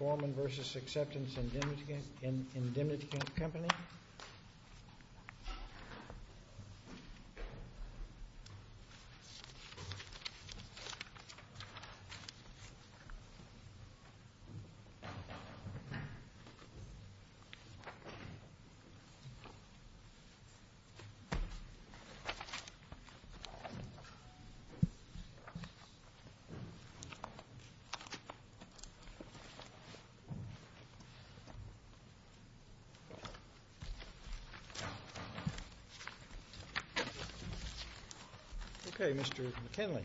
Form and versus acceptance indemnity in indemnity company. Okay, Mr. McKinley.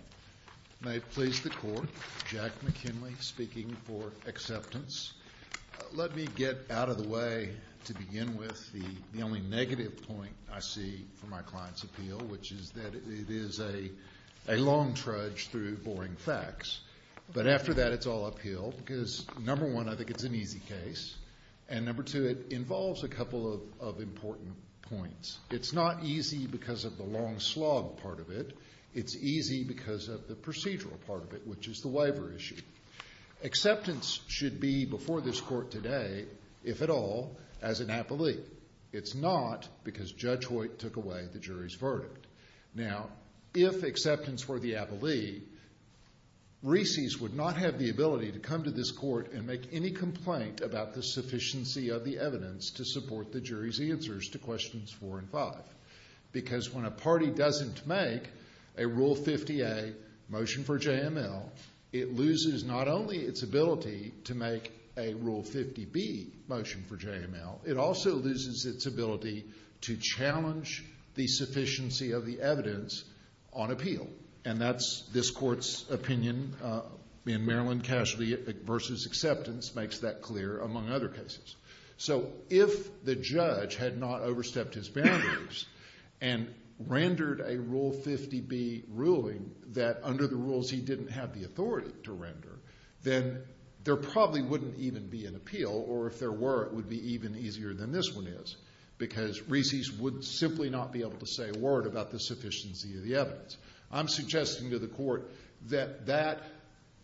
May it please the Court. Jack McKinley speaking for acceptance. Let me get out of the way to begin with. The only negative point I see from my client's appeal, which is that it is a long trudge through boring facts. But after that, it's all uphill, because number one, I think it's an easy case. And number two, it involves a couple of important points. It's not easy because of the long slog part of it. It's easy because of the procedural part of it, which is the waiver issue. Acceptance should be before this Court today, if at all, as an appellee. It's not because Judge Hoyt took away the jury's verdict. Now, if acceptance were the appellee, RISIs would not have the ability to come to this Court and make any complaint about the sufficiency of the evidence to support the jury's answers to questions four and five. Because when a party doesn't make a Rule 50A motion for JML, it loses not only its ability to make a Rule 50B motion for JML, it also loses its ability to challenge the sufficiency of the evidence on appeal. And that's this Court's opinion in Maryland Casualty v. Acceptance makes that clear, among other cases. So if the judge had not overstepped his boundaries and rendered a Rule 50B ruling that under the rules he didn't have the authority to render, then there probably wouldn't even be an appeal, or if there were, it would be even easier than this one is, because RISIs would simply not be able to say a word about the sufficiency of the evidence. I'm suggesting to the Court that that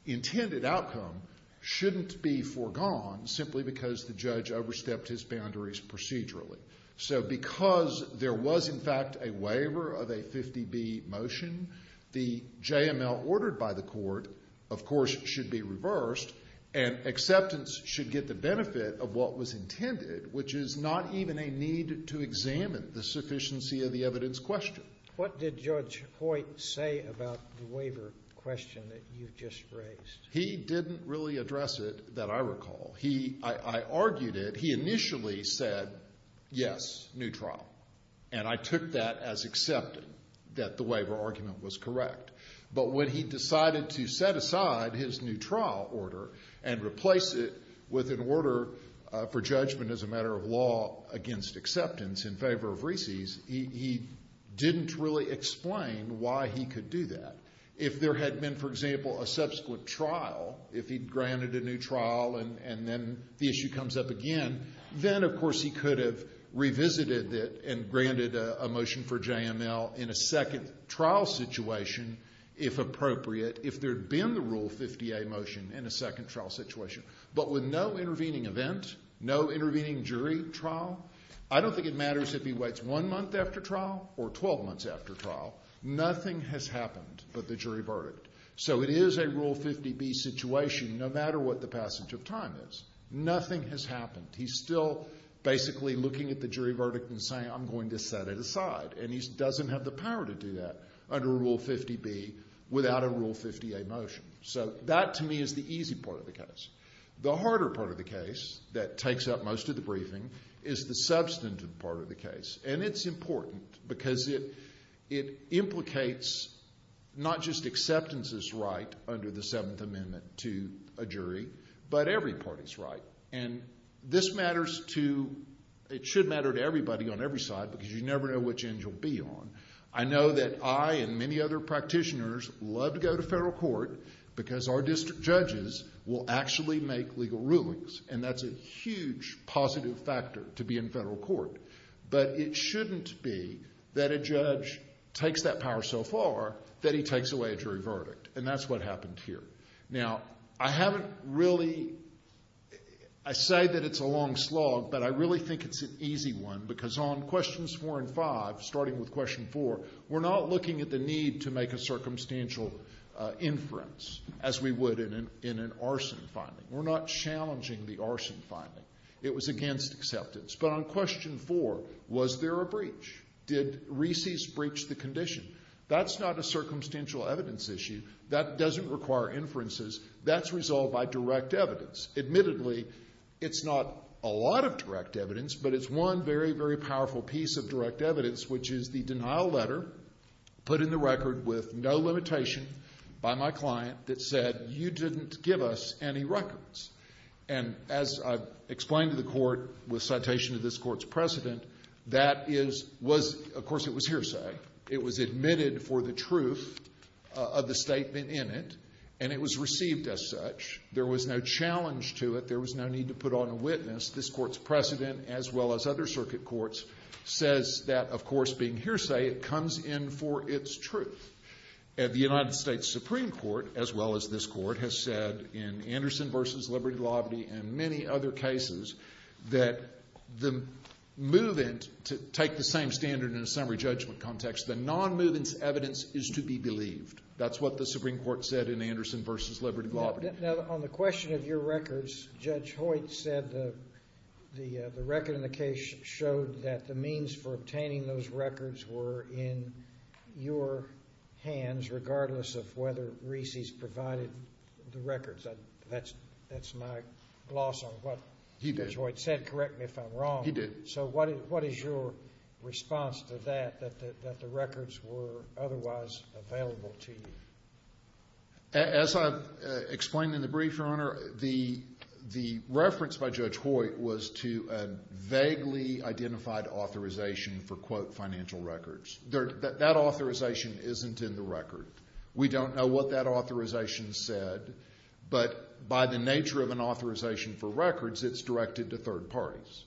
intended outcome shouldn't be foregone simply because the judge overstepped his boundaries procedurally. So because there was, in fact, a waiver of a 50B motion, the JML ordered by the Court, of course, should be reversed, and Acceptance should get the benefit of what was intended, which is not even a need to examine the sufficiency of the evidence question. What did Judge Hoyt say about the waiver question that you just raised? He didn't really address it that I recall. I argued it. He initially said, yes, new trial, and I took that as accepting that the waiver argument was correct. But when he decided to set aside his new trial order and replace it with an order for judgment as a matter of law against Acceptance in favor of RISIs, he didn't really explain why he could do that. If there had been, for example, a subsequent trial, if he'd granted a new trial and then the issue comes up again, then, of course, he could have revisited it and granted a motion for JML in a second trial situation, if appropriate, if there had been the Rule 50A motion in a second trial situation. But with no intervening event, no intervening jury trial, I don't think it matters if he waits one month after trial or 12 months after trial. Nothing has happened but the jury verdict. So it is a Rule 50B situation, no matter what the passage of time is. Nothing has happened. He's still basically looking at the jury verdict and saying, I'm going to set it aside, and he doesn't have the power to do that under Rule 50B without a Rule 50A motion. So that, to me, is the easy part of the case. The harder part of the case that takes up most of the briefing is the substantive part of the case, and it's important because it implicates not just Acceptance's right under the Seventh Amendment to a jury, but every party's right, and this matters to, it should matter to everybody on every side because you never know which end you'll be on. I know that I and many other practitioners love to go to federal court because our district judges will actually make legal rulings, and that's a huge positive factor to be in federal court. But it shouldn't be that a judge takes that power so far that he takes away a jury verdict, and that's what happened here. Now, I haven't really, I say that it's a long slog, but I really think it's an easy one because on Questions 4 and 5, starting with Question 4, we're not looking at the need to make a circumstantial inference as we would in an arson finding. We're not challenging the arson finding. It was against Acceptance. But on Question 4, was there a breach? Did Reese's breach the condition? That's not a circumstantial evidence issue. That doesn't require inferences. That's resolved by direct evidence. Admittedly, it's not a lot of direct evidence, but it's one very, very powerful piece of direct evidence, which is the denial letter put in the record with no limitation by my client that said you didn't give us any records. And as I've explained to the court with citation of this court's precedent, that is, was, of course, it was hearsay. It was admitted for the truth of the statement in it, and it was received as such. There was no challenge to it. There was no need to put on a witness. This court's precedent, as well as other circuit courts, says that, of course, being hearsay, it comes in for its truth. The United States Supreme Court, as well as this court, has said in Anderson v. Liberty Lauberti and many other cases that the move-in, to take the same standard in a summary judgment context, the non-move-in's evidence is to be believed. That's what the Supreme Court said in Anderson v. Liberty Lauberti. Now, on the question of your records, Judge Hoyt said the record in the case showed that the means for obtaining those records were in your hands, regardless of whether Reesey's provided the records. That's my gloss on what he did. Judge Hoyt said, correct me if I'm wrong. He did. So what is your response to that, that the records were otherwise available to you? As I've explained in the brief, Your Honor, the reference by Judge Hoyt was to a vaguely identified authorization for, quote, financial records. That authorization isn't in the record. We don't know what that authorization said, but by the nature of an authorization for records, it's directed to third parties.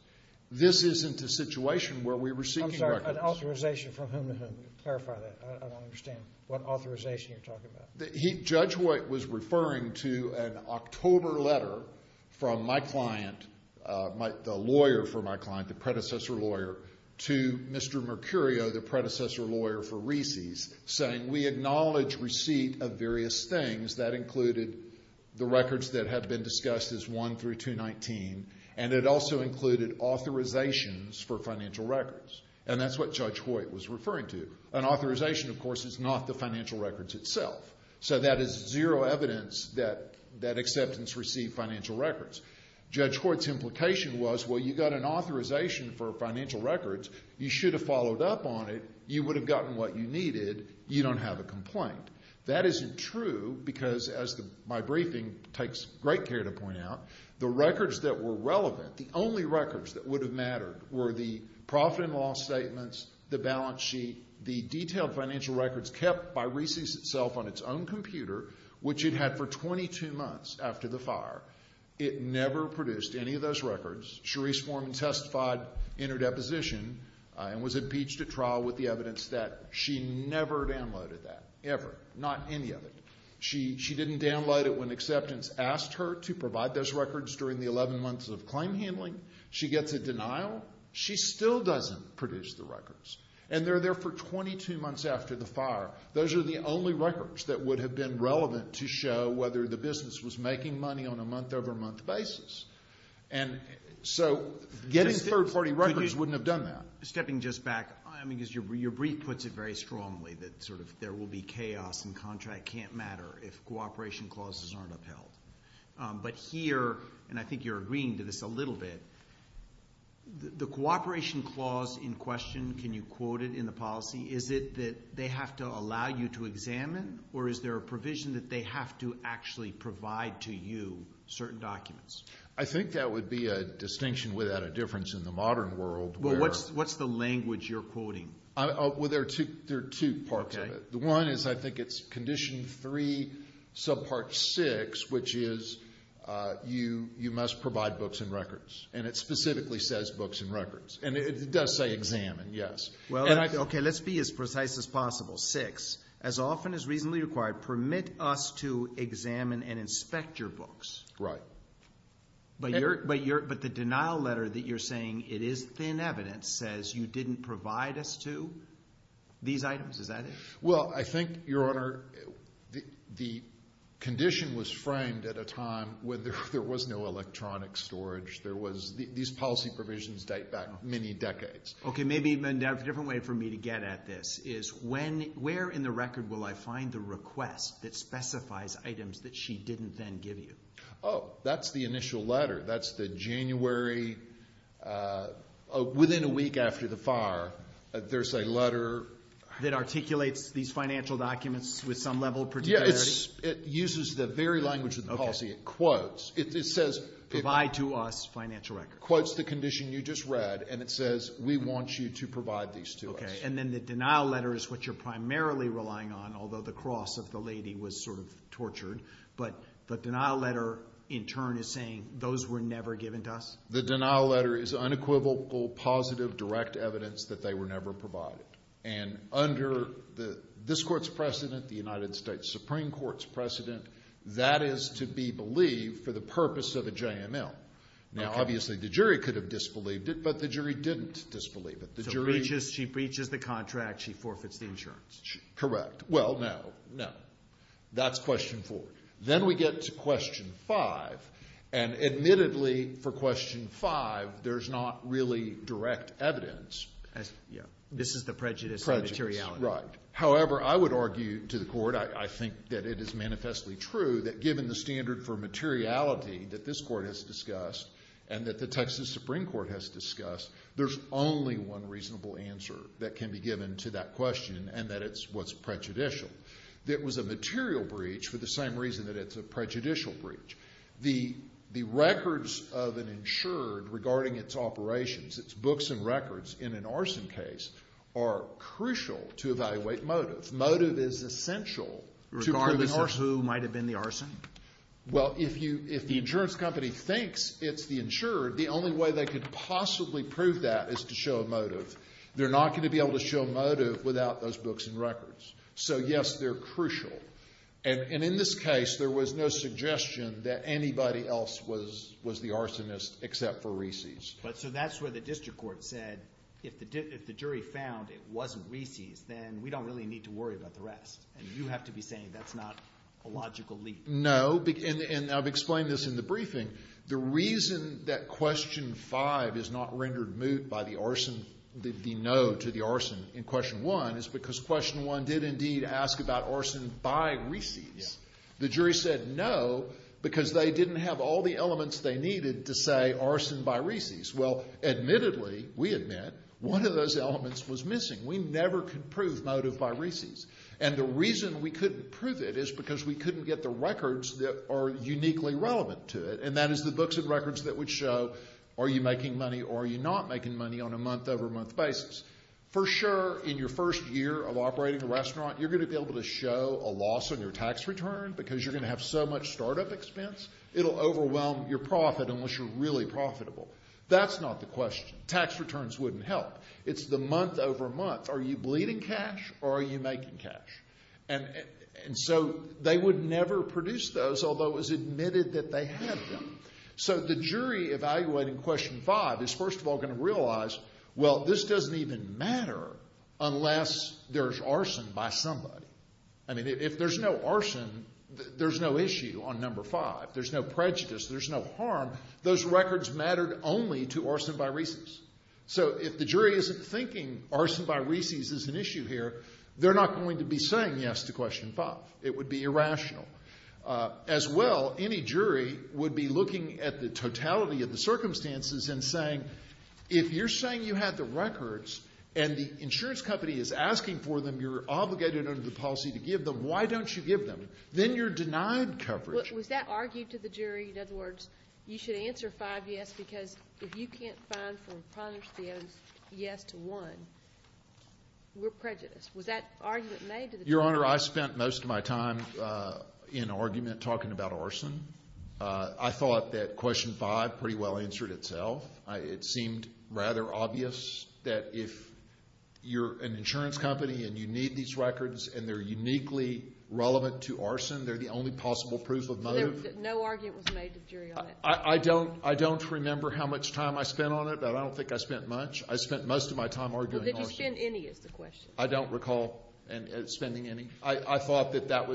This isn't a situation where we're receiving records. I'm sorry. An authorization from whom to whom? Clarify that. I don't understand what authorization you're talking about. Judge Hoyt was referring to an October letter from my client, the lawyer for my client, the predecessor lawyer, to Mr. Mercurio, the predecessor lawyer for Reesey's, saying we acknowledge receipt of various things. That included the records that had been discussed as 1 through 219, and it also included authorizations for financial records. And that's what Judge Hoyt was referring to. An authorization, of course, is not the financial records itself. So that is zero evidence that that acceptance received financial records. Judge Hoyt's implication was, well, you got an authorization for financial records. You should have followed up on it. You would have gotten what you needed. You don't have a complaint. That isn't true because, as my briefing takes great care to point out, the records that were relevant, the only records that would have mattered, were the profit and loss statements, the balance sheet, the detailed financial records kept by Reesey's itself on its own computer, which it had for 22 months after the fire. It never produced any of those records. Cherise Foreman testified in her deposition and was impeached at trial with the evidence that she never downloaded that, ever. Not any of it. She didn't download it when acceptance asked her to provide those records during the 11 months of claim handling. She gets a denial. She still doesn't produce the records. And they're there for 22 months after the fire. Those are the only records that would have been relevant to show whether the business was making money on a month-over-month basis. And so getting third-party records wouldn't have done that. Stepping just back, I mean, because your brief puts it very strongly that sort of there will be chaos and contract can't matter if cooperation clauses aren't upheld. But here, and I think you're agreeing to this a little bit, the cooperation clause in question, can you quote it in the policy, is it that they have to allow you to examine or is there a provision that they have to actually provide to you certain documents? I think that would be a distinction without a difference in the modern world. Well, what's the language you're quoting? Well, there are two parts of it. The one is I think it's Condition 3, Subpart 6, which is you must provide books and records. And it specifically says books and records. And it does say examine, yes. Okay, let's be as precise as possible. Six, as often as reasonably required, permit us to examine and inspect your books. Right. But the denial letter that you're saying it is thin evidence says you didn't provide us to these items. Is that it? Well, I think, Your Honor, the condition was framed at a time when there was no electronic storage. These policy provisions date back many decades. Okay, maybe a different way for me to get at this is where in the record will I find the request that specifies items that she didn't then give you? Oh, that's the initial letter. That's the January, within a week after the fire, there's a letter. That articulates these financial documents with some level of particularity? Yes, it uses the very language of the policy. It quotes. It says provide to us financial records. It quotes the condition you just read, and it says we want you to provide these to us. Okay, and then the denial letter is what you're primarily relying on, although the cross of the lady was sort of tortured. But the denial letter in turn is saying those were never given to us? The denial letter is unequivocal, positive, direct evidence that they were never provided. And under this Court's precedent, the United States Supreme Court's precedent, that is to be believed for the purpose of a JML. Now, obviously, the jury could have disbelieved it, but the jury didn't disbelieve it. So she breaches the contract, she forfeits the insurance. Correct. Well, no. No. That's question four. Then we get to question five, and admittedly, for question five, there's not really direct evidence. This is the prejudice of materiality. Prejudice, right. However, I would argue to the Court, I think that it is manifestly true, that given the standard for materiality that this Court has discussed and that the Texas Supreme Court has discussed, there's only one reasonable answer that can be given to that question, and that it's what's prejudicial. It was a material breach for the same reason that it's a prejudicial breach. The records of an insured regarding its operations, its books and records, in an arson case are crucial to evaluate motive. Motive is essential to prove an arson. Regardless of who might have been the arson? Well, if the insurance company thinks it's the insured, the only way they could possibly prove that is to show a motive. They're not going to be able to show a motive without those books and records. So, yes, they're crucial. And in this case, there was no suggestion that anybody else was the arsonist except for Reese's. So that's where the district court said if the jury found it wasn't Reese's, then we don't really need to worry about the rest. And you have to be saying that's not a logical leap. No. And I've explained this in the briefing. The reason that Question 5 is not rendered moot by the arson, the no to the arson in Question 1, is because Question 1 did indeed ask about arson by Reese's. The jury said no because they didn't have all the elements they needed to say arson by Reese's. Well, admittedly, we admit, one of those elements was missing. We never could prove motive by Reese's. And the reason we couldn't prove it is because we couldn't get the records that are uniquely relevant to it, and that is the books and records that would show are you making money or are you not making money on a month-over-month basis. For sure, in your first year of operating a restaurant, you're going to be able to show a loss on your tax return because you're going to have so much startup expense, it'll overwhelm your profit unless you're really profitable. That's not the question. Tax returns wouldn't help. It's the month-over-month. Are you bleeding cash or are you making cash? And so they would never produce those, although it was admitted that they had them. So the jury evaluating Question 5 is, first of all, going to realize, well, this doesn't even matter unless there's arson by somebody. I mean, if there's no arson, there's no issue on Number 5. There's no prejudice. There's no harm. Those records mattered only to arson by Reese's. So if the jury isn't thinking arson by Reese's is an issue here, they're not going to be saying yes to Question 5. It would be irrational. As well, any jury would be looking at the totality of the circumstances and saying if you're saying you have the records and the insurance company is asking for them, you're obligated under the policy to give them, why don't you give them? Then you're denied coverage. Was that argued to the jury? In other words, you should answer 5 yes because if you can't find from 5 yes to 1, we're prejudiced. Was that argument made to the jury? Your Honor, I spent most of my time in argument talking about arson. I thought that Question 5 pretty well answered itself. It seemed rather obvious that if you're an insurance company and you need these records and they're uniquely relevant to arson, they're the only possible proof of motive. So no argument was made to the jury on that? I don't remember how much time I spent on it, but I don't think I spent much. I spent most of my time arguing arson. Did you spend any is the question? I don't recall spending any. I thought there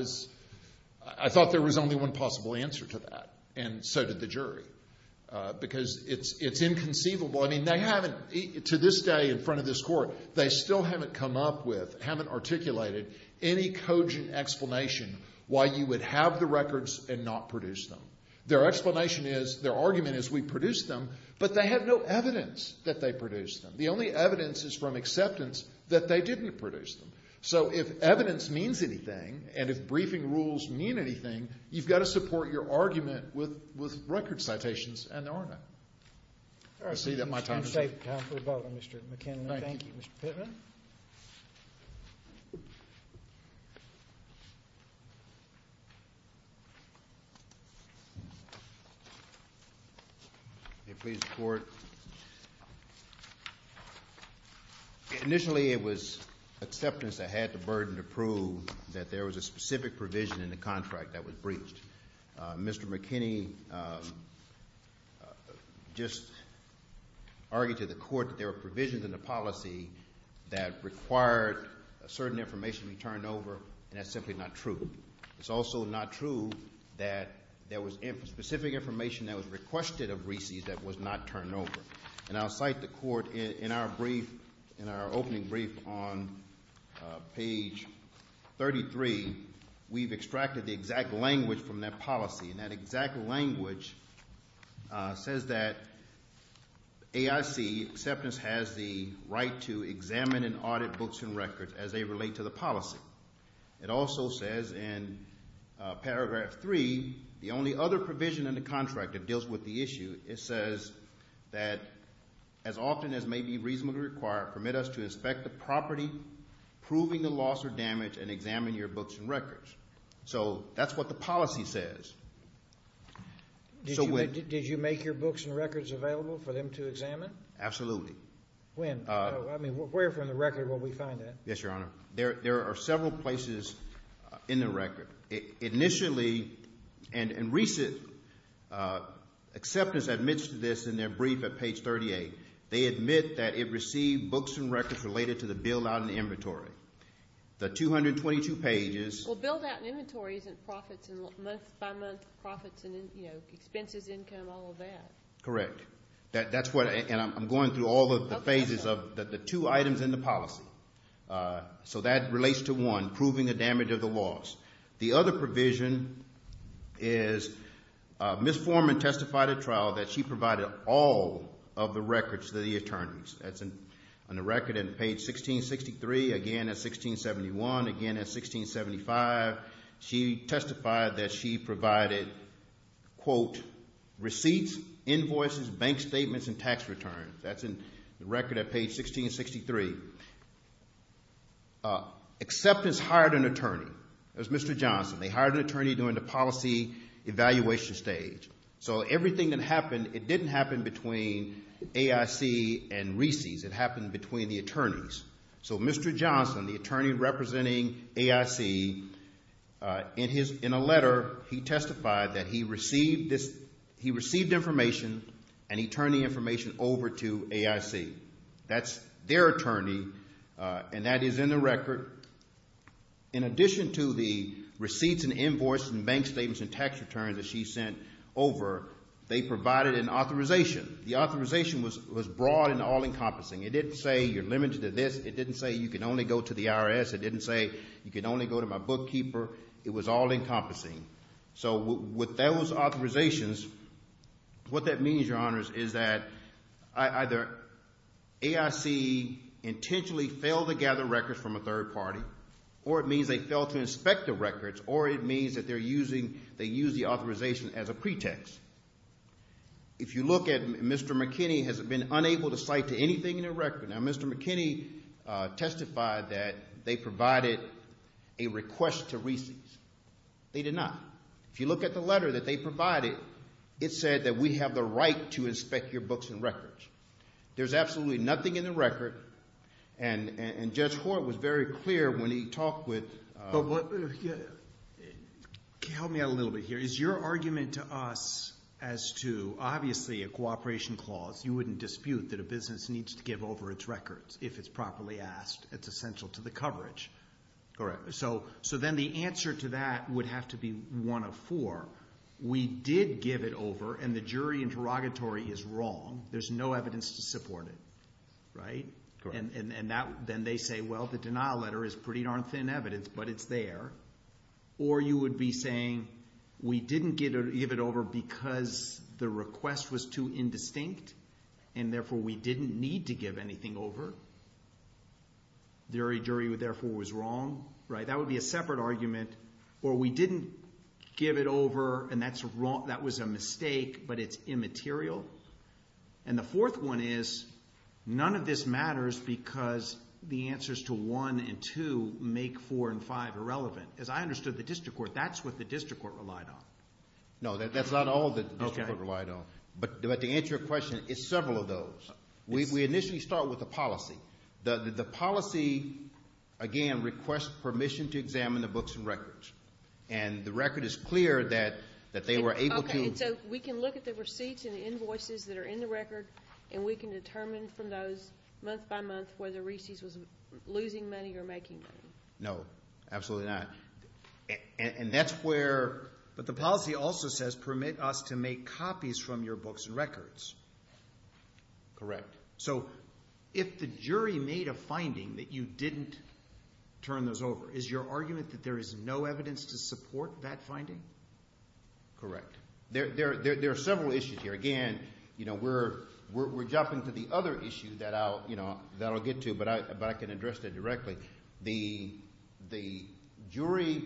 was only one possible answer to that and so did the jury because it's inconceivable. To this day in front of this Court, they still haven't come up with, haven't articulated any cogent explanation why you would have the records and not produce them. Their explanation is, their argument is, we produced them, but they have no evidence that they produced them. The only evidence is from acceptance that they didn't produce them. So if evidence means anything and if briefing rules mean anything, you've got to support your argument with record citations and the R&A. I see that my time is up. Time for rebuttal, Mr. McKinney. Thank you. Thank you, Mr. Pittman. May it please the Court. Initially it was acceptance that had the burden to prove that there was a specific provision in the contract that was breached. Mr. McKinney just argued to the Court that there were provisions in the policy that required a certain information to be turned over and that's simply not true. It's also not true that there was specific information that was requested of Reese's that was not turned over. And I'll cite the Court in our brief, in our opening brief on page 33, we've extracted the exact language from that policy. And that exact language says that AIC acceptance has the right to examine and audit books and records as they relate to the policy. It also says in paragraph 3, the only other provision in the contract that deals with the issue, it says that as often as may be reasonably required, permit us to inspect the property, proving the loss or damage, and examine your books and records. So that's what the policy says. Did you make your books and records available for them to examine? Absolutely. When? I mean, where from the record will we find that? Yes, Your Honor. There are several places in the record. Initially, and Reese's acceptance admits to this in their brief at page 38, they admit that it received books and records related to the billed-out inventory. The 222 pages. Well, billed-out inventory isn't profits and month-by-month profits and expenses, income, all of that. Correct. And I'm going through all of the phases of the two items in the policy. So that relates to one, proving the damage of the loss. The other provision is Ms. Foreman testified at trial that she provided all of the records to the attorneys. That's on the record at page 1663, again at 1671, again at 1675. She testified that she provided, quote, receipts, invoices, bank statements, and tax returns. That's in the record at page 1663. Acceptance hired an attorney. It was Mr. Johnson. They hired an attorney during the policy evaluation stage. So everything that happened, it didn't happen between AIC and Reese's. It happened between the attorneys. So Mr. Johnson, the attorney representing AIC, in a letter he testified that he received information and he turned the information over to AIC. That's their attorney, and that is in the record. In addition to the receipts and invoices and bank statements and tax returns that she sent over, they provided an authorization. The authorization was broad and all-encompassing. It didn't say you're limited to this. It didn't say you can only go to the IRS. It didn't say you can only go to my bookkeeper. It was all-encompassing. So with those authorizations, what that means, Your Honors, is that either AIC intentionally failed to gather records from a third party or it means they failed to inspect the records or it means that they're using the authorization as a pretext. If you look at Mr. McKinney, has it been unable to cite to anything in the record? Now, Mr. McKinney testified that they provided a request to Reese's. They did not. If you look at the letter that they provided, it said that we have the right to inspect your books and records. There's absolutely nothing in the record, and Judge Hort was very clear when he talked with Help me out a little bit here. Is your argument to us as to, obviously, a cooperation clause, you wouldn't dispute that a business needs to give over its records if it's properly asked, it's essential to the coverage. Correct. So then the answer to that would have to be one of four. We did give it over, and the jury interrogatory is wrong. There's no evidence to support it. Correct. Then they say, well, the denial letter is pretty darn thin evidence, but it's there. Or you would be saying we didn't give it over because the request was too indistinct, and therefore we didn't need to give anything over. The jury, therefore, was wrong. That would be a separate argument. Or we didn't give it over, and that was a mistake, but it's immaterial. And the fourth one is none of this matters because the answers to one and two make four and five irrelevant. As I understood the district court, that's what the district court relied on. No, that's not all that the district court relied on. But to answer your question, it's several of those. We initially start with the policy. The policy, again, requests permission to examine the books and records, and the record is clear that they were able to And so we can look at the receipts and invoices that are in the record, and we can determine from those month by month whether Reesey's was losing money or making money. No, absolutely not. And that's where, but the policy also says permit us to make copies from your books and records. Correct. So if the jury made a finding that you didn't turn those over, is your argument that there is no evidence to support that finding? Correct. There are several issues here. Again, we're jumping to the other issue that I'll get to, but I can address that directly. The jury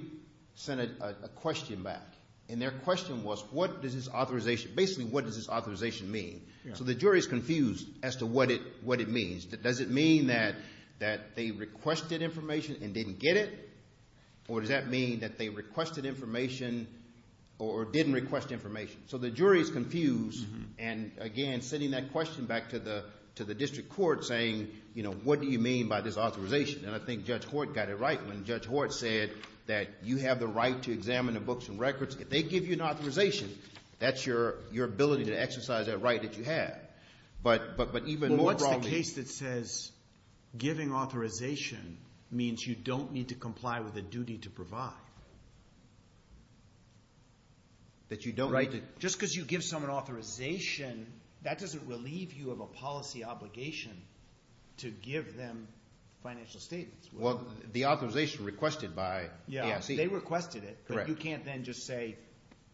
sent a question back, and their question was what does this authorization, basically what does this authorization mean? So the jury is confused as to what it means. Does it mean that they requested information and didn't get it, or does that mean that they requested information or didn't request information? So the jury is confused, and again, sending that question back to the district court saying, what do you mean by this authorization? And I think Judge Hort got it right when Judge Hort said that you have the right to examine the books and records. If they give you an authorization, that's your ability to exercise that right that you have. But even more broadly— Well, what's the case that says giving authorization means you don't need to comply with a duty to provide? That you don't need to— Just because you give someone authorization, that doesn't relieve you of a policy obligation to give them financial statements. Well, the authorization requested by ASC. They requested it, but you can't then just say,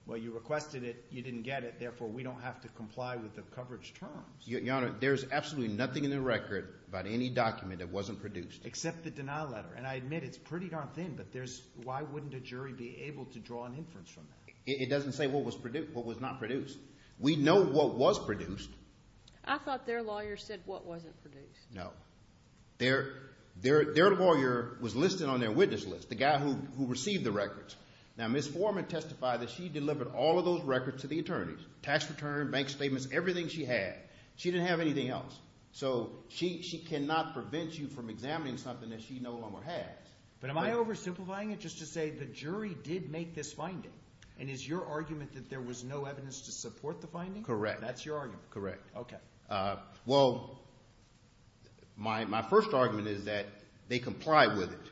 well, you requested it, you didn't get it, therefore we don't have to comply with the coverage terms. Your Honor, there's absolutely nothing in the record about any document that wasn't produced. Except the denial letter. And I admit it's pretty darn thin, but why wouldn't a jury be able to draw an inference from that? It doesn't say what was not produced. We know what was produced. I thought their lawyer said what wasn't produced. No. Their lawyer was listed on their witness list, the guy who received the records. Now, Ms. Foreman testified that she delivered all of those records to the attorneys. Tax return, bank statements, everything she had. She didn't have anything else. So she cannot prevent you from examining something that she no longer has. But am I oversimplifying it just to say the jury did make this finding? And is your argument that there was no evidence to support the finding? Correct. That's your argument? Correct. Okay. Well, my first argument is that they complied with it.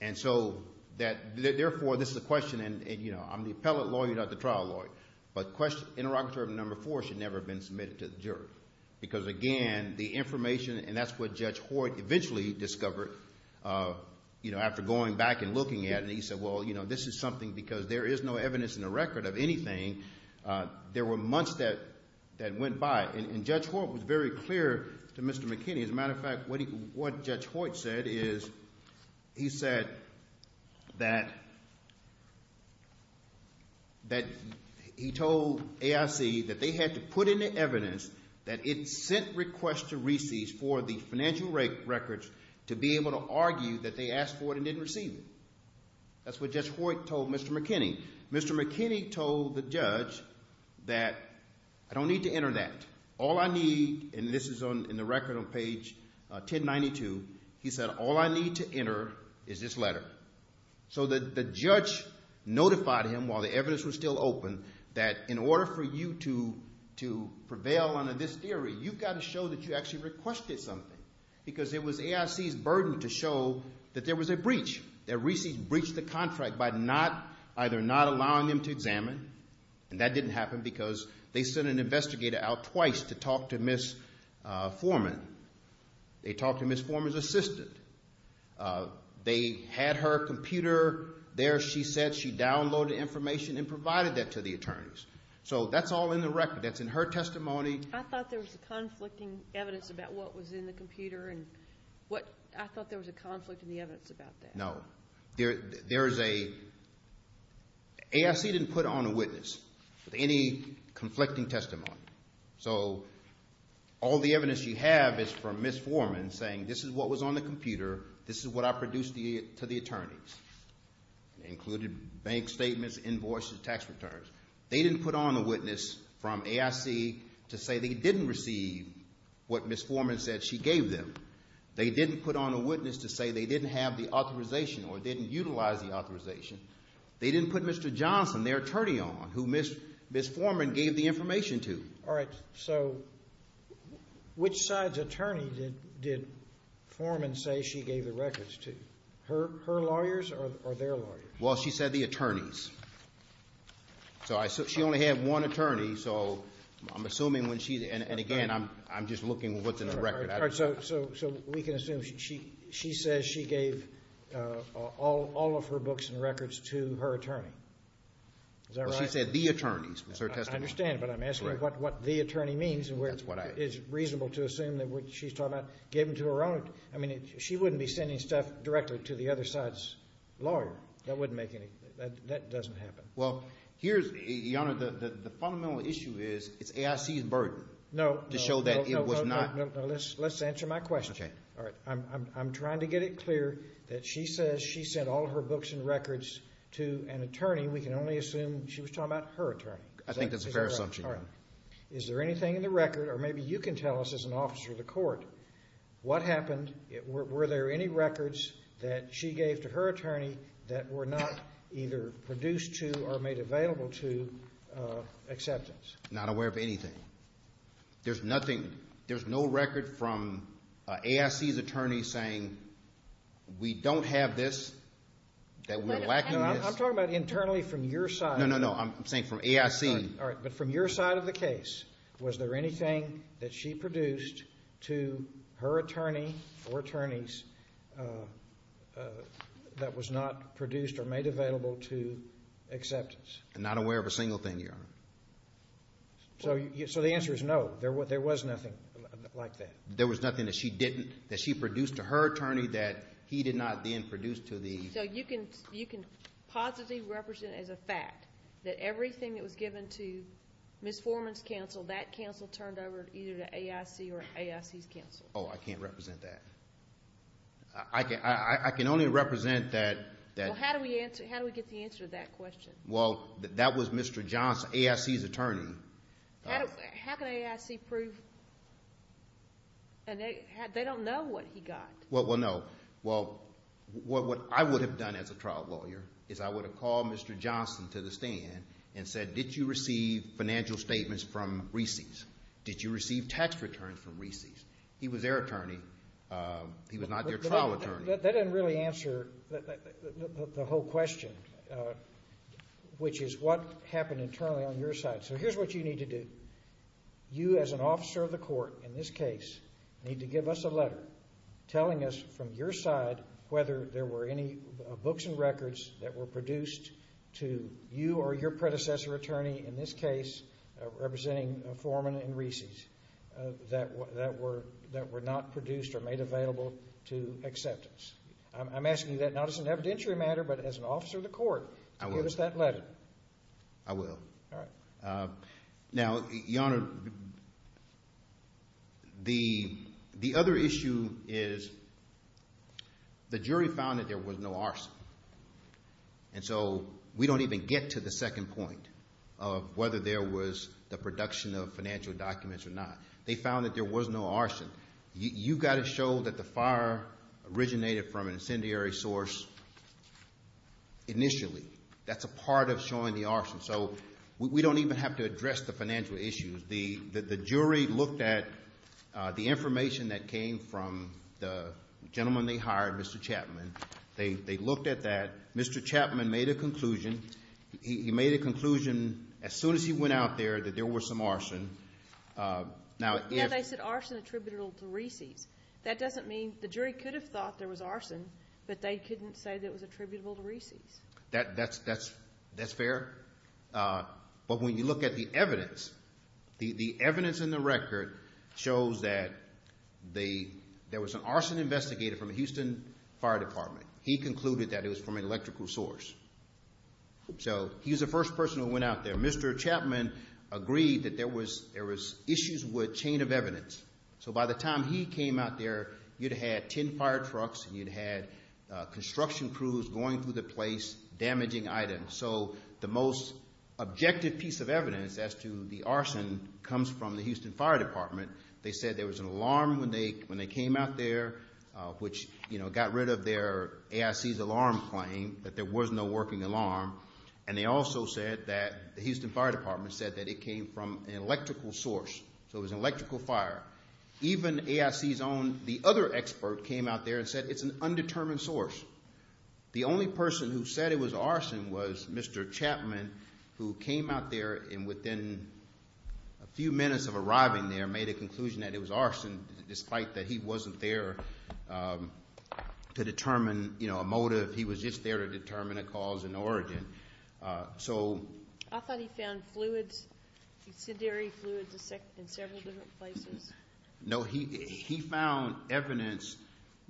And so therefore this is a question, and I'm the appellate lawyer, not the trial lawyer, but interrogatory number four should never have been submitted to the jury. Because again, the information, and that's what Judge Hoyt eventually discovered after going back and looking at it. He said, well, this is something because there is no evidence in the record of anything. There were months that went by. And Judge Hoyt was very clear to Mr. McKinney. As a matter of fact, what Judge Hoyt said is he said that he told AIC that they had to put in the evidence that it sent requests to receipts for the financial records to be able to argue that they asked for it and didn't receive it. That's what Judge Hoyt told Mr. McKinney. Mr. McKinney told the judge that I don't need to enter that. All I need, and this is in the record on page 1092, he said all I need to enter is this letter. So the judge notified him while the evidence was still open that in order for you to prevail under this theory, you've got to show that you actually requested something. Because it was AIC's burden to show that there was a breach, that receipts breached the contract by either not allowing them to examine, and that didn't happen because they sent an investigator out twice to talk to Ms. Foreman. They talked to Ms. Foreman's assistant. They had her computer there, she said. She reported the information and provided that to the attorneys. So that's all in the record. That's in her testimony. I thought there was conflicting evidence about what was in the computer. I thought there was a conflict in the evidence about that. No. There is a... AIC didn't put on a witness with any conflicting testimony. So all the evidence you have is from Ms. Foreman saying this is what was on the computer, this is what I produced to the attorneys. It included bank statements, invoices, tax returns. They didn't put on a witness from AIC to say they didn't receive what Ms. Foreman said she gave them. They didn't put on a witness to say they didn't have the authorization or didn't utilize the authorization. They didn't put Mr. Johnson, their attorney on, who Ms. Foreman gave the information to. All right. So which side's attorney did Foreman say she gave the records to? Her lawyers or their lawyers? Well, she said the attorneys. So she only had one attorney, so I'm assuming when she... And, again, I'm just looking at what's in the record. All right. So we can assume she says she gave all of her books and records to her attorney. Is that right? Well, she said the attorneys. That's her testimony. I understand, but I'm asking what the attorney means. That's what I... It's reasonable to assume that what she's talking about, gave them to her own... I mean, she wouldn't be sending stuff directly to the other side's lawyer. That wouldn't make any... That doesn't happen. Well, here's... Your Honor, the fundamental issue is it's AIC's burden to show that it was not... No, no, no, no. Let's answer my question. Okay. All right. I'm trying to get it clear that she says she sent all of her books and records to an attorney. We can only assume she was talking about her attorney. I think that's a fair assumption. All right. Is there anything in the record, or maybe you can tell us as an officer of the court, what happened? Were there any records that she gave to her attorney that were not either produced to or made available to acceptance? Not aware of anything. There's nothing... There's no record from AIC's attorney saying, we don't have this, that we're lacking this. I'm talking about internally from your side. No, no, no. I'm saying from AIC. All right. But from your side of the case, was there anything that she produced to her attorney or attorneys that was not produced or made available to acceptance? Not aware of a single thing, Your Honor. So the answer is no. There was nothing like that. There was nothing that she didn't, that she produced to her attorney that he did not then produce to the... So you can positively represent as a fact that everything that was given to Ms. Foreman's counsel, that counsel turned over either to AIC or AIC's counsel? Oh, I can't represent that. I can only represent that... Well, how do we get the answer to that question? Well, that was Mr. John AIC's attorney. How can AIC prove... They don't know what he got. Well, no. Well, what I would have done as a trial lawyer is I would have called Mr. Johnson to the stand and said, did you receive financial statements from Reesey's? Did you receive tax returns from Reesey's? He was their attorney. He was not their trial attorney. That doesn't really answer the whole question, which is what happened internally on your side. So here's what you need to do. You, as an officer of the court in this case, need to give us a letter telling us from your side whether there were any books and records that were produced to you or your predecessor attorney, in this case representing Foreman and Reesey's, that were not produced or made available to acceptance. I'm asking you that not as an evidentiary matter but as an officer of the court to give us that letter. I will. All right. Now, Your Honor, the other issue is the jury found that there was no arson, and so we don't even get to the second point of whether there was the production of financial documents or not. They found that there was no arson. You've got to show that the fire originated from an incendiary source initially. That's a part of showing the arson. So we don't even have to address the financial issues. The jury looked at the information that came from the gentleman they hired, Mr. Chapman. They looked at that. Mr. Chapman made a conclusion. He made a conclusion as soon as he went out there that there was some arson. Now, if they said arson attributable to Reesey's, that doesn't mean the jury could have thought there was arson, but they couldn't say that it was attributable to Reesey's. That's fair. But when you look at the evidence, the evidence in the record shows that there was an arson investigator from the Houston Fire Department. He concluded that it was from an electrical source. So he was the first person who went out there. Mr. Chapman agreed that there was issues with chain of evidence. So by the time he came out there, you'd had ten fire trucks and you'd had construction crews going through the place damaging items. So the most objective piece of evidence as to the arson comes from the Houston Fire Department. They said there was an alarm when they came out there, which, you know, got rid of their AIC's alarm claim that there was no working alarm. And they also said that the Houston Fire Department said that it came from an electrical source. So it was an electrical fire. Even AIC's own, the other expert, came out there and said it's an undetermined source. The only person who said it was arson was Mr. Chapman, who came out there and within a few minutes of arriving there, made a conclusion that it was arson, despite that he wasn't there to determine, you know, a motive. He was just there to determine a cause and origin. I thought he found fluids, incendiary fluids in several different places. No, he found evidence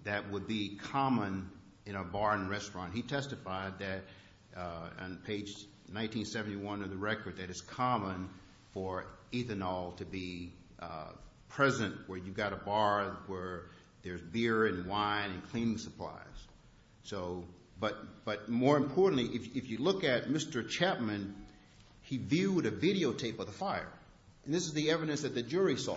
that would be common in a bar and restaurant. He testified that on page 1971 of the record that it's common for ethanol to be present where you've got a bar where there's beer and wine and cleaning supplies. So, but more importantly, if you look at Mr. Chapman, he viewed a videotape of the fire. And this is the evidence that the jury saw.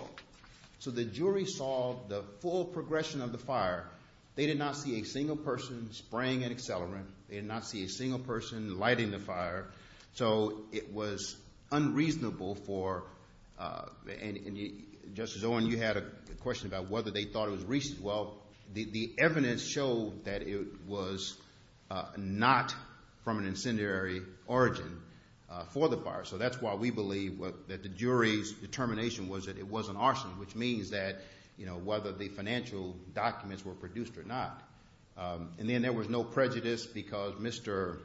So the jury saw the full progression of the fire. They did not see a single person spraying an accelerant. They did not see a single person lighting the fire. So it was unreasonable for, and Justice Owen, you had a question about whether they thought it was recent. Well, the evidence showed that it was not from an incendiary origin for the fire. So that's why we believe that the jury's determination was that it was an arson, which means that, you know, whether the financial documents were produced or not. And then there was no prejudice because Mr.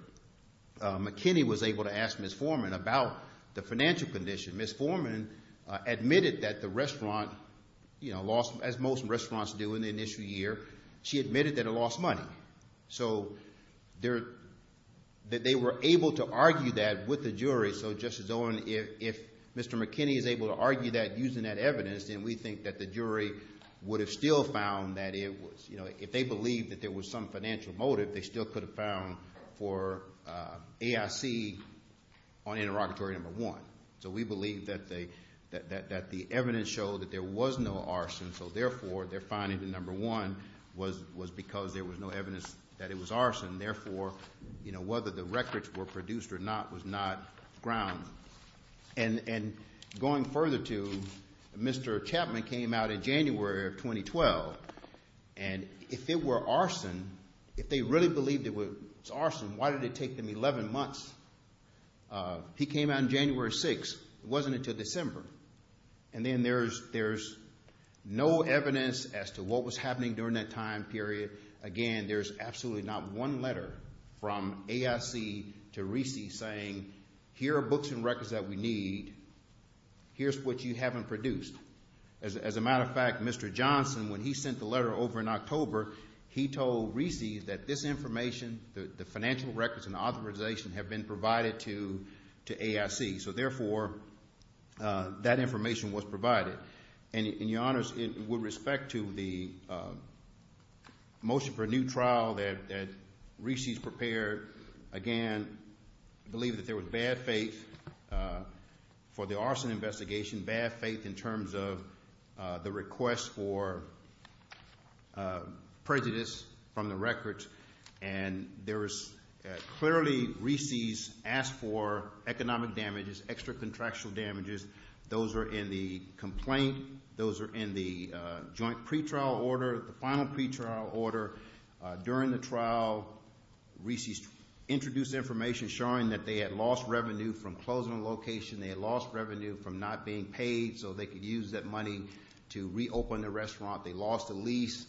McKinney was able to ask Ms. Foreman about the financial condition. Ms. Foreman admitted that the restaurant, you know, lost, as most restaurants do in the initial year, she admitted that it lost money. So they were able to argue that with the jury. So, Justice Owen, if Mr. McKinney is able to argue that using that evidence, then we think that the jury would have still found that it was, you know, if they believed that there was some financial motive, they still could have found for AIC on interrogatory number one. So we believe that the evidence showed that there was no arson. So therefore, their finding in number one was because there was no evidence that it was arson. Therefore, you know, whether the records were produced or not was not ground. And going further to Mr. Chapman came out in January of 2012, and if it were arson, if they really believed it was arson, why did it take them 11 months? He came out on January 6th. It wasn't until December. And then there's no evidence as to what was happening during that time period. Again, there's absolutely not one letter from AIC to RISI saying, here are books and records that we need. Here's what you haven't produced. As a matter of fact, Mr. Johnson, when he sent the letter over in October, he told RISI that this information, the financial records and authorization have been provided to AIC. So therefore, that information was provided. And, Your Honors, with respect to the motion for a new trial that RISI has prepared, again, I believe that there was bad faith for the arson investigation, bad faith in terms of the request for prejudice from the records. And there was clearly RISIs asked for economic damages, extra contractual damages. Those are in the complaint. Those are in the joint pretrial order, the final pretrial order. During the trial, RISIs introduced information showing that they had lost revenue from closing the location. They had lost revenue from not being paid so they could use that money to reopen the restaurant. They lost a lease.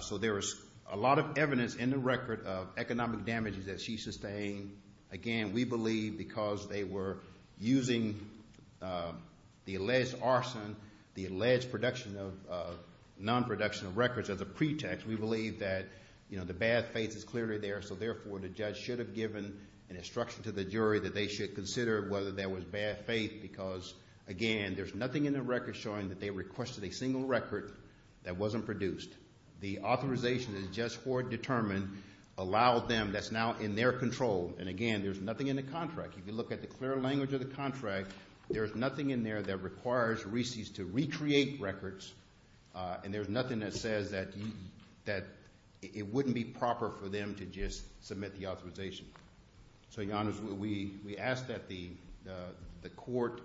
So there was a lot of evidence in the record of economic damages that she sustained. Again, we believe because they were using the alleged arson, the alleged production of non-production of records as a pretext, we believe that, you know, the bad faith is clearly there. So therefore, the judge should have given an instruction to the jury that they should consider whether there was bad faith because, again, there's nothing in the record showing that they requested a single record that wasn't produced. The authorization is just for determined, allowed them, that's now in their control. And, again, there's nothing in the contract. If you look at the clear language of the contract, there's nothing in there that requires RISIs to recreate records, and there's nothing that says that it wouldn't be proper for them to just submit the authorization. So, Your Honors, we ask that the court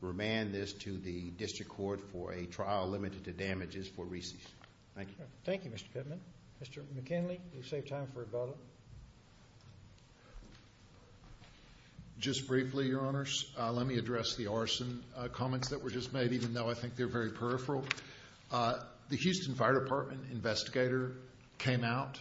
remand this to the district court for a trial limited to damages for RISIs. Thank you. Thank you, Mr. Pittman. Mr. McKinley, you saved time for a bottle. Just briefly, Your Honors, let me address the arson comments that were just made, even though I think they're very peripheral. The Houston Fire Department investigator came out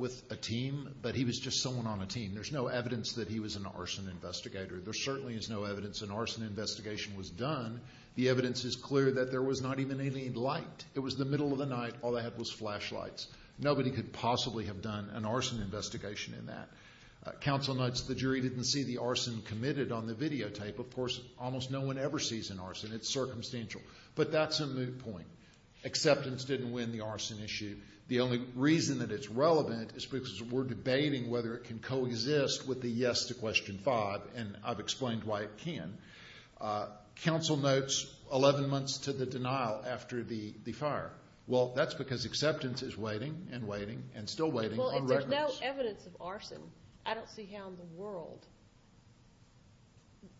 with a team, but he was just someone on a team. There's no evidence that he was an arson investigator. There certainly is no evidence an arson investigation was done. The evidence is clear that there was not even any light. It was the middle of the night. All they had was flashlights. Nobody could possibly have done an arson investigation in that. Counsel notes the jury didn't see the arson committed on the videotape. Of course, almost no one ever sees an arson. It's circumstantial. But that's a moot point. Acceptance didn't win the arson issue. The only reason that it's relevant is because we're debating whether it can coexist with the yes to Question 5, and I've explained why it can. Counsel notes 11 months to the denial after the fire. Well, that's because acceptance is waiting and waiting and still waiting on records. Well, if there's no evidence of arson, I don't see how in the world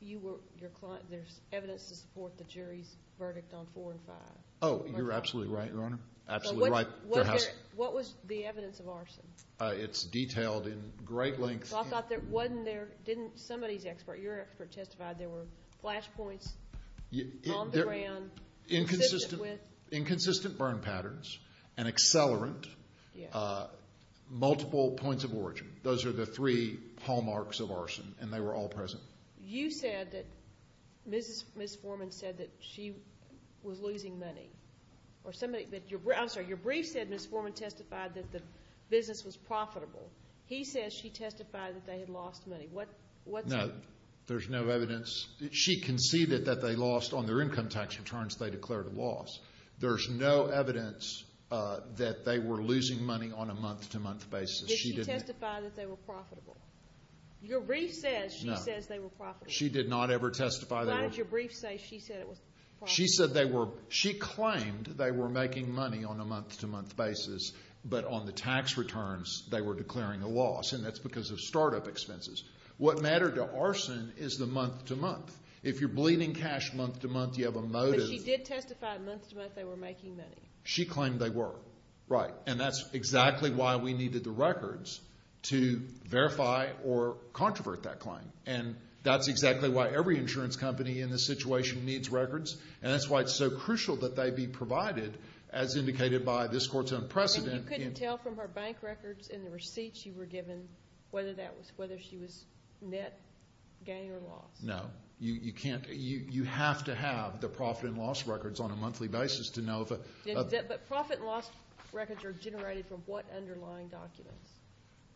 you were, your client, there's evidence to support the jury's verdict on 4 and 5. Oh, you're absolutely right, Your Honor. Absolutely right. What was the evidence of arson? It's detailed in great length. I thought there wasn't there. Didn't somebody's expert, your expert, testify there were flashpoints on the ground? Inconsistent burn patterns and accelerant, multiple points of origin. Those are the three hallmarks of arson, and they were all present. You said that Ms. Foreman said that she was losing money. I'm sorry, your brief said Ms. Foreman testified that the business was profitable. He says she testified that they had lost money. No, there's no evidence. She conceded that they lost on their income tax returns. They declared a loss. There's no evidence that they were losing money on a month-to-month basis. Did she testify that they were profitable? Your brief says she says they were profitable. She did not ever testify they were. Why did your brief say she said it was profitable? She said they were. She claimed they were making money on a month-to-month basis, but on the tax returns they were declaring a loss, and that's because of startup expenses. What mattered to arson is the month-to-month. If you're bleeding cash month-to-month, you have a motive. But she did testify month-to-month they were making money. She claimed they were. Right. And that's exactly why we needed the records to verify or controvert that claim, and that's exactly why every insurance company in this situation needs records, and that's why it's so crucial that they be provided as indicated by this court's unprecedented. You couldn't tell from her bank records and the receipts she were given whether she was net gain or loss? No. You can't. You have to have the profit and loss records on a monthly basis to know. But profit and loss records are generated from what underlying documents?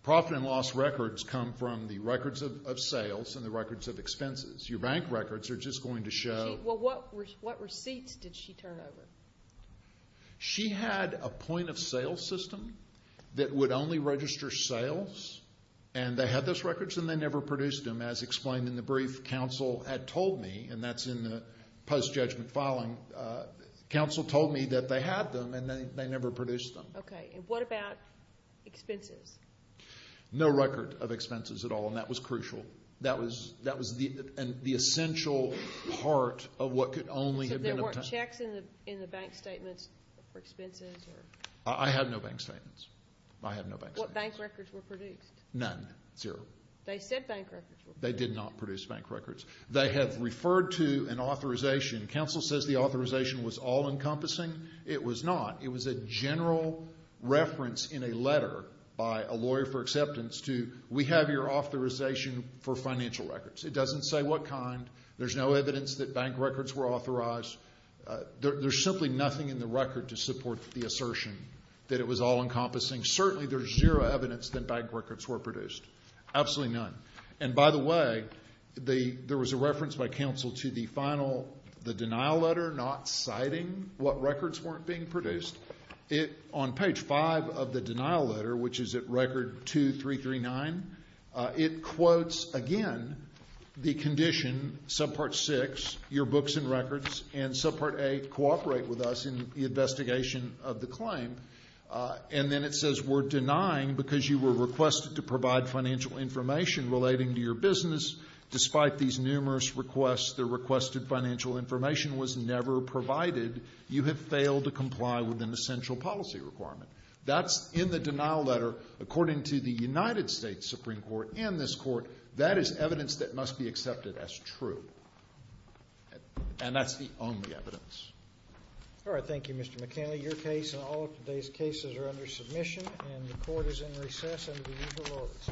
Profit and loss records come from the records of sales and the records of expenses. Your bank records are just going to show. Well, what receipts did she turn over? She had a point-of-sale system that would only register sales, and they had those records and they never produced them, as explained in the brief counsel had told me, and that's in the post-judgment filing. Counsel told me that they had them and they never produced them. Okay. And what about expenses? No record of expenses at all, and that was crucial. That was the essential part of what could only have been obtained. So there weren't checks in the bank statements for expenses? I have no bank statements. I have no bank statements. What bank records were produced? None. Zero. They said bank records were produced. They did not produce bank records. They have referred to an authorization. Counsel says the authorization was all-encompassing. It was not. It was a general reference in a letter by a lawyer for acceptance to, we have your authorization for financial records. It doesn't say what kind. There's no evidence that bank records were authorized. There's simply nothing in the record to support the assertion that it was all-encompassing. Certainly there's zero evidence that bank records were produced, absolutely none. And, by the way, there was a reference by counsel to the final, the denial letter, not citing what records weren't being produced. On page five of the denial letter, which is at record 2339, it quotes again the condition, subpart 6, your books and records, and subpart 8, cooperate with us in the investigation of the claim. And then it says we're denying because you were requested to provide financial information relating to your business. Despite these numerous requests, the requested financial information was never provided. You have failed to comply with an essential policy requirement. That's in the denial letter. According to the United States Supreme Court and this Court, that is evidence that must be accepted as true. And that's the only evidence. All right. Thank you, Mr. McKinley. Your case and all of today's cases are under submission, and the Court is in recess under the usual orders.